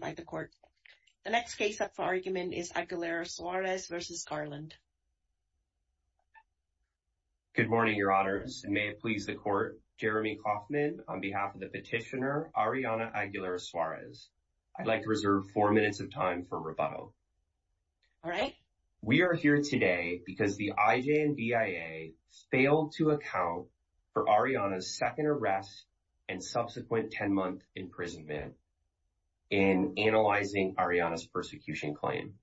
by the court. The next case up for argument is Aguilera-Suarez versus Garland. Good morning, your honors, and may it please the court. Jeremy Kaufman on behalf of the petitioner Arianna Aguilera-Suarez. I'd like to reserve four minutes of time for rebuttal. All right. We are here today because the IJNBIA failed to account for Arianna's second arrest and subsequent 10-month imprisonment in analyzing Arianna's persecution claim.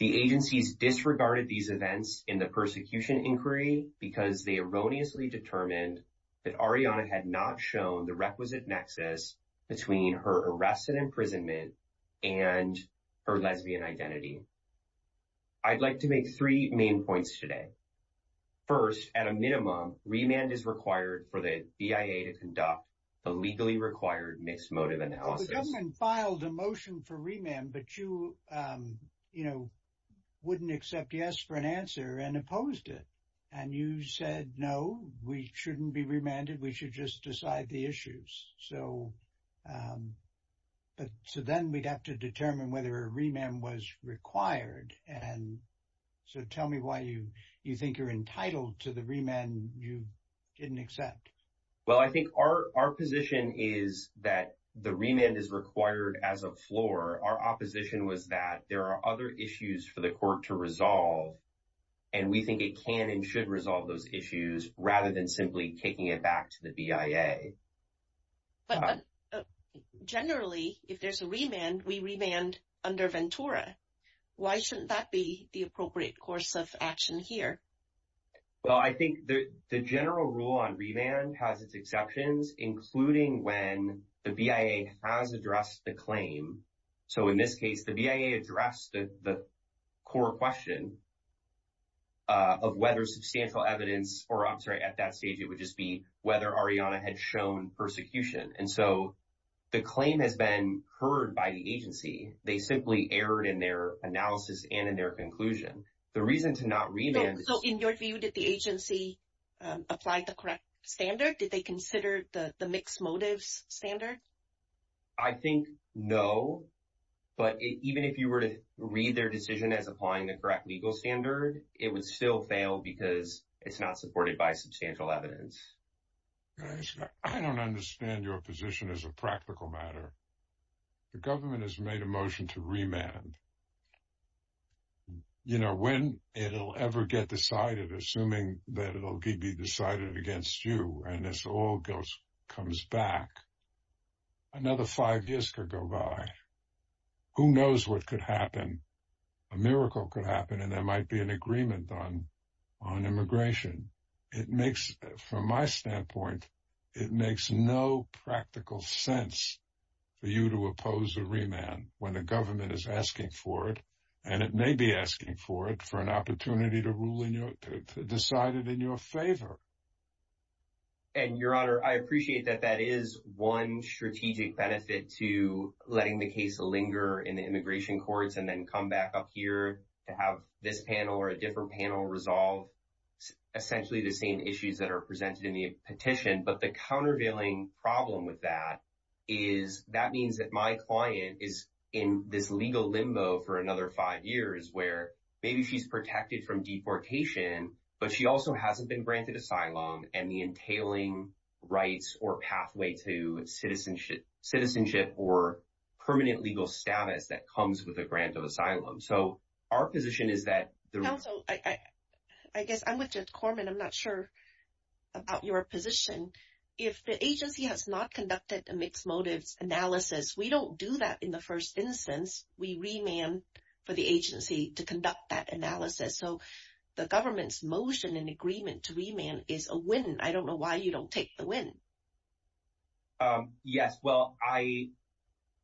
The agencies disregarded these events in the persecution inquiry because they erroneously determined that Arianna had not shown the requisite nexus between her arrested imprisonment and her lesbian identity. I'd like to make three main points today. First, at a minimum, remand is required for the BIA to conduct the legally required mismotive analysis. The government filed a motion for remand, but you wouldn't accept yes for an answer and opposed it. You said, no, we shouldn't be remanded. We should just decide the issues. Then we'd have to determine whether a remand was required. Tell me why you think you're entitled to the remand you didn't accept. Well, I think our position is that the remand is required as a floor. Our opposition was that there are other issues for the court to resolve, and we think it can and should resolve those issues rather than simply taking it back to the BIA. But generally, if there's a remand, we remand under Ventura. Why shouldn't that be the appropriate course of action? Well, I think the general rule on remand has its exceptions, including when the BIA has addressed the claim. So in this case, the BIA addressed the core question of whether substantial evidence, or I'm sorry, at that stage, it would just be whether Ariana had shown persecution. And so the claim has been heard by the agency. They simply erred in their analysis and in their analysis. Did the agency apply the correct standard? Did they consider the mixed motives standard? I think no. But even if you were to read their decision as applying the correct legal standard, it would still fail because it's not supported by substantial evidence. I don't understand your position as a practical matter. The government has made a motion to that it will be decided against you. And this all goes comes back. Another five years could go by. Who knows what could happen? A miracle could happen. And there might be an agreement on immigration. It makes, from my standpoint, it makes no practical sense for you to oppose a remand when the government is asking for it. And it may be asking for it for an opportunity to rule decided in your favor. And Your Honor, I appreciate that that is one strategic benefit to letting the case linger in the immigration courts and then come back up here to have this panel or a different panel resolve essentially the same issues that are presented in the petition. But the countervailing problem with that is that means that my client is in this legal limbo for deportation, but she also hasn't been granted asylum and the entailing rights or pathway to citizenship or permanent legal status that comes with a grant of asylum. So our position is that I guess I'm with Judge Corman. I'm not sure about your position. If the agency has not conducted a mixed motives analysis, we don't do that in the first instance. We remand for the agency to conduct that analysis. So the government's motion and agreement to remand is a win. I don't know why you don't take the win. Yes. Well, I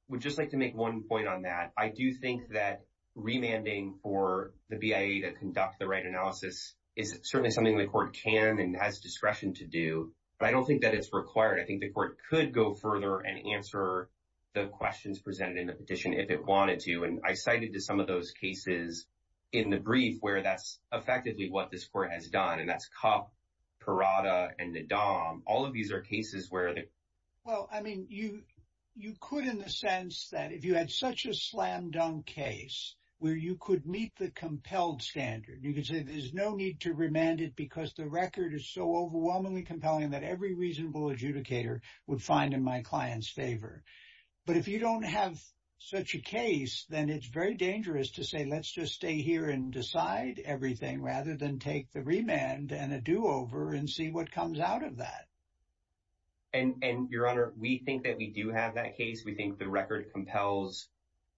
would just like to make one point on that. I do think that remanding for the BIA to conduct the right analysis is certainly something the court can and has discretion to do. But I don't think that it's required. I think the court could go further and answer the questions presented in the petition if it wanted to. And I cited to some of those cases in the brief where that's effectively what this court has done. And that's Kopp, Parada, and Nadam. All of these are cases where they... Well, I mean, you could in the sense that if you had such a slam dunk case where you could meet the compelled standard, you could say there's no need to remand it because the record is so overwhelmingly compelling that every reasonable adjudicator would find in my client's favor. But if you don't have such a case, then it's very dangerous to say let's just stay here and decide everything rather than take the remand and a do-over and see what comes out of that. And Your Honor, we think that we do have that case. We think the record compels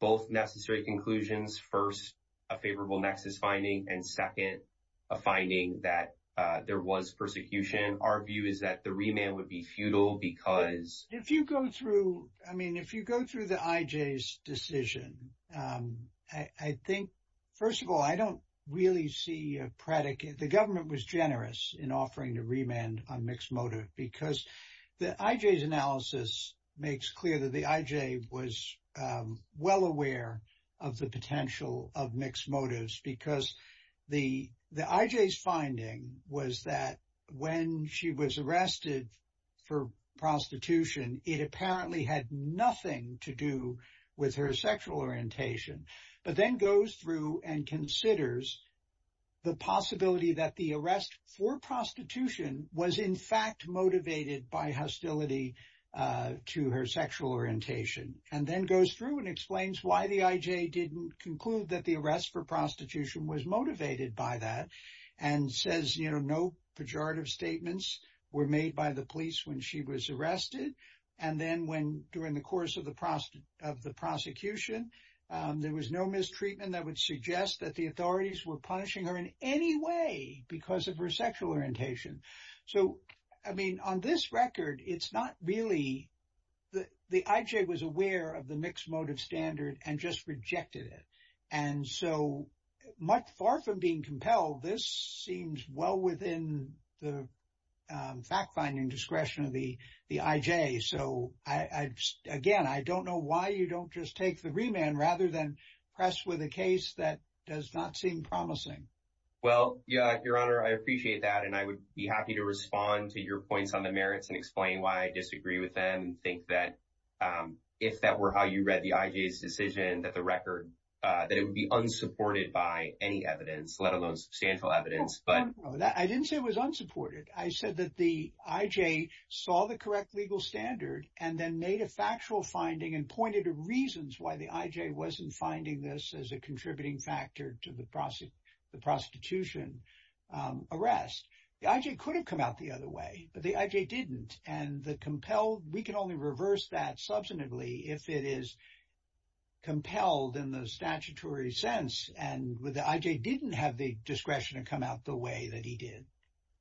both necessary conclusions, first, a favorable nexus finding, and second, a finding that there was because... If you go through the I.J.'s decision, I think, first of all, I don't really see a predicate. The government was generous in offering to remand on mixed motive because the I.J.'s analysis makes clear that the I.J. was well aware of the potential of mixed motives because the I.J.'s finding was that when she was arrested for prostitution, it apparently had nothing to do with her sexual orientation, but then goes through and considers the possibility that the arrest for prostitution was, in fact, motivated by hostility to her sexual orientation, and then goes through and explains why the I.J. didn't conclude that the arrest for prostitution was motivated by that, and says, you know, no pejorative statements were made by the police when she was arrested. And then when, during the course of the prosecution, there was no mistreatment that would suggest that the authorities were punishing her in any way because of her of the mixed motive standard and just rejected it. And so, far from being compelled, this seems well within the fact-finding discretion of the I.J. So, again, I don't know why you don't just take the remand rather than press with a case that does not seem promising. Well, yeah, Your Honor, I appreciate that, and I would be happy to respond to your points on the merits and explain why I that were how you read the I.J.'s decision that the record, that it would be unsupported by any evidence, let alone substantial evidence. I didn't say it was unsupported. I said that the I.J. saw the correct legal standard and then made a factual finding and pointed to reasons why the I.J. wasn't finding this as a contributing factor to the prostitution arrest. The I.J. could have come out the other way, but the I.J. didn't, and the compelled, we can only reverse that if it is compelled in the statutory sense, and the I.J. didn't have the discretion to come out the way that he did.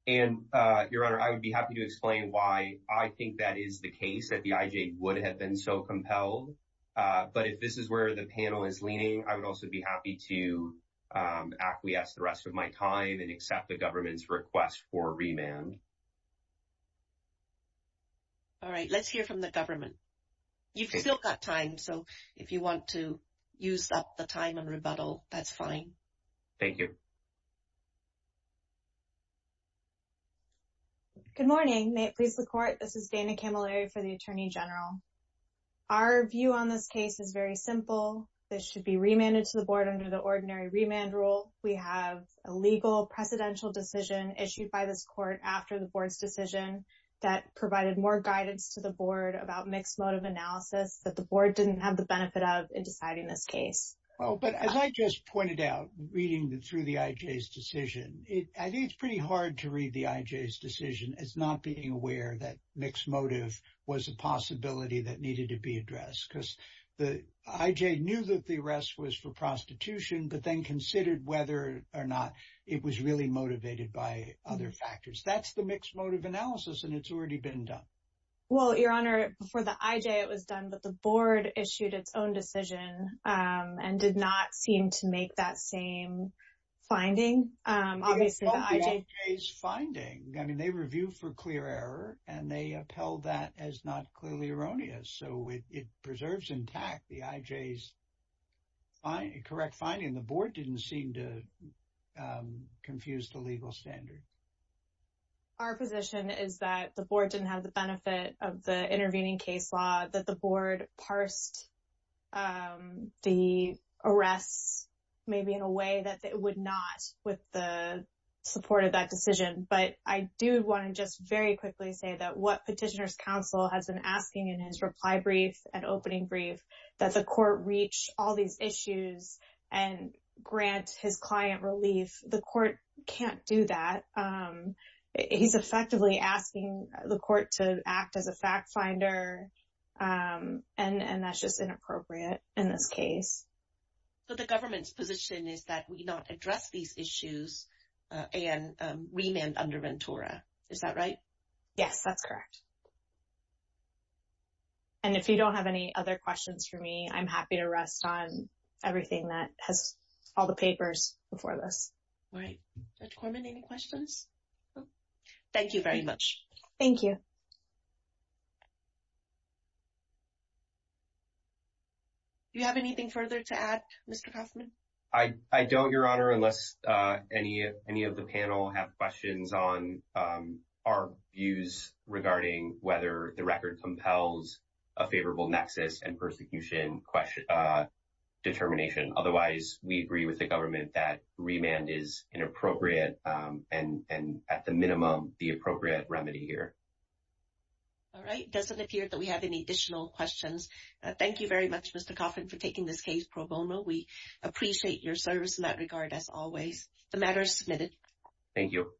And, Your Honor, I would be happy to explain why I think that is the case, that the I.J. would have been so compelled, but if this is where the panel is leaning, I would also be happy to acquiesce the rest of my time and accept the government's request for remand. All right. Let's hear from the government. You've still got time, so if you want to use up the time and rebuttal, that's fine. Thank you. Good morning. May it please the Court. This is Dana Camilleri for the Attorney General. Our view on this case is very simple. This should be remanded to the Board under the ordinary remand rule. We have a legal, precedential decision issued by this Court after the Board's decision that provided more guidance to the Board about mixed motive analysis that the Board didn't have the benefit of in deciding this case. Oh, but as I just pointed out, reading through the I.J.'s decision, I think it's pretty hard to read the I.J.'s decision as not being aware that mixed motive was a possibility that needed to be addressed, because the I.J. knew that the arrest was for prostitution, but then considered whether or not it was really motivated by other factors. That's the mixed motive analysis, and it's already been done. Well, Your Honor, before the I.J., it was done, but the Board issued its own decision and did not seem to make that same finding. Obviously, the I.J. It's not the I.J.'s finding. I mean, they review for clear error, and they upheld that as not clearly erroneous. So, it preserves intact the I.J.'s finding. Correct finding. The Board didn't seem to confuse the legal standard. Our position is that the Board didn't have the benefit of the intervening case law, that the Board parsed the arrests maybe in a way that it would not with the support of that decision. But I do want to just very quickly say that what Petitioner's Counsel has been asking in his reply brief and opening brief, that the court reach all these issues and grant his client relief. The court can't do that. He's effectively asking the court to act as a fact finder, and that's just inappropriate in this case. So, the government's position is that we not address these issues and remand under Ventura. Is that right? Yes, that's correct. And if you don't have any other questions for me, I'm happy to rest on everything that has all the papers before this. All right. Dr. Korman, any questions? Thank you very much. Thank you. Do you have anything further to add, Mr. Kaufman? I don't, Your Honor, unless any of the panel have questions on our views regarding whether the record compels a favorable nexus and persecution determination. Otherwise, we agree with the government that remand is inappropriate and, at the minimum, the appropriate remedy here. All right. Doesn't appear that we have any additional questions. Thank you very much, Mr. Kaufman, for taking this case pro bono. We appreciate your service in that regard, as always. The matter is submitted. Thank you.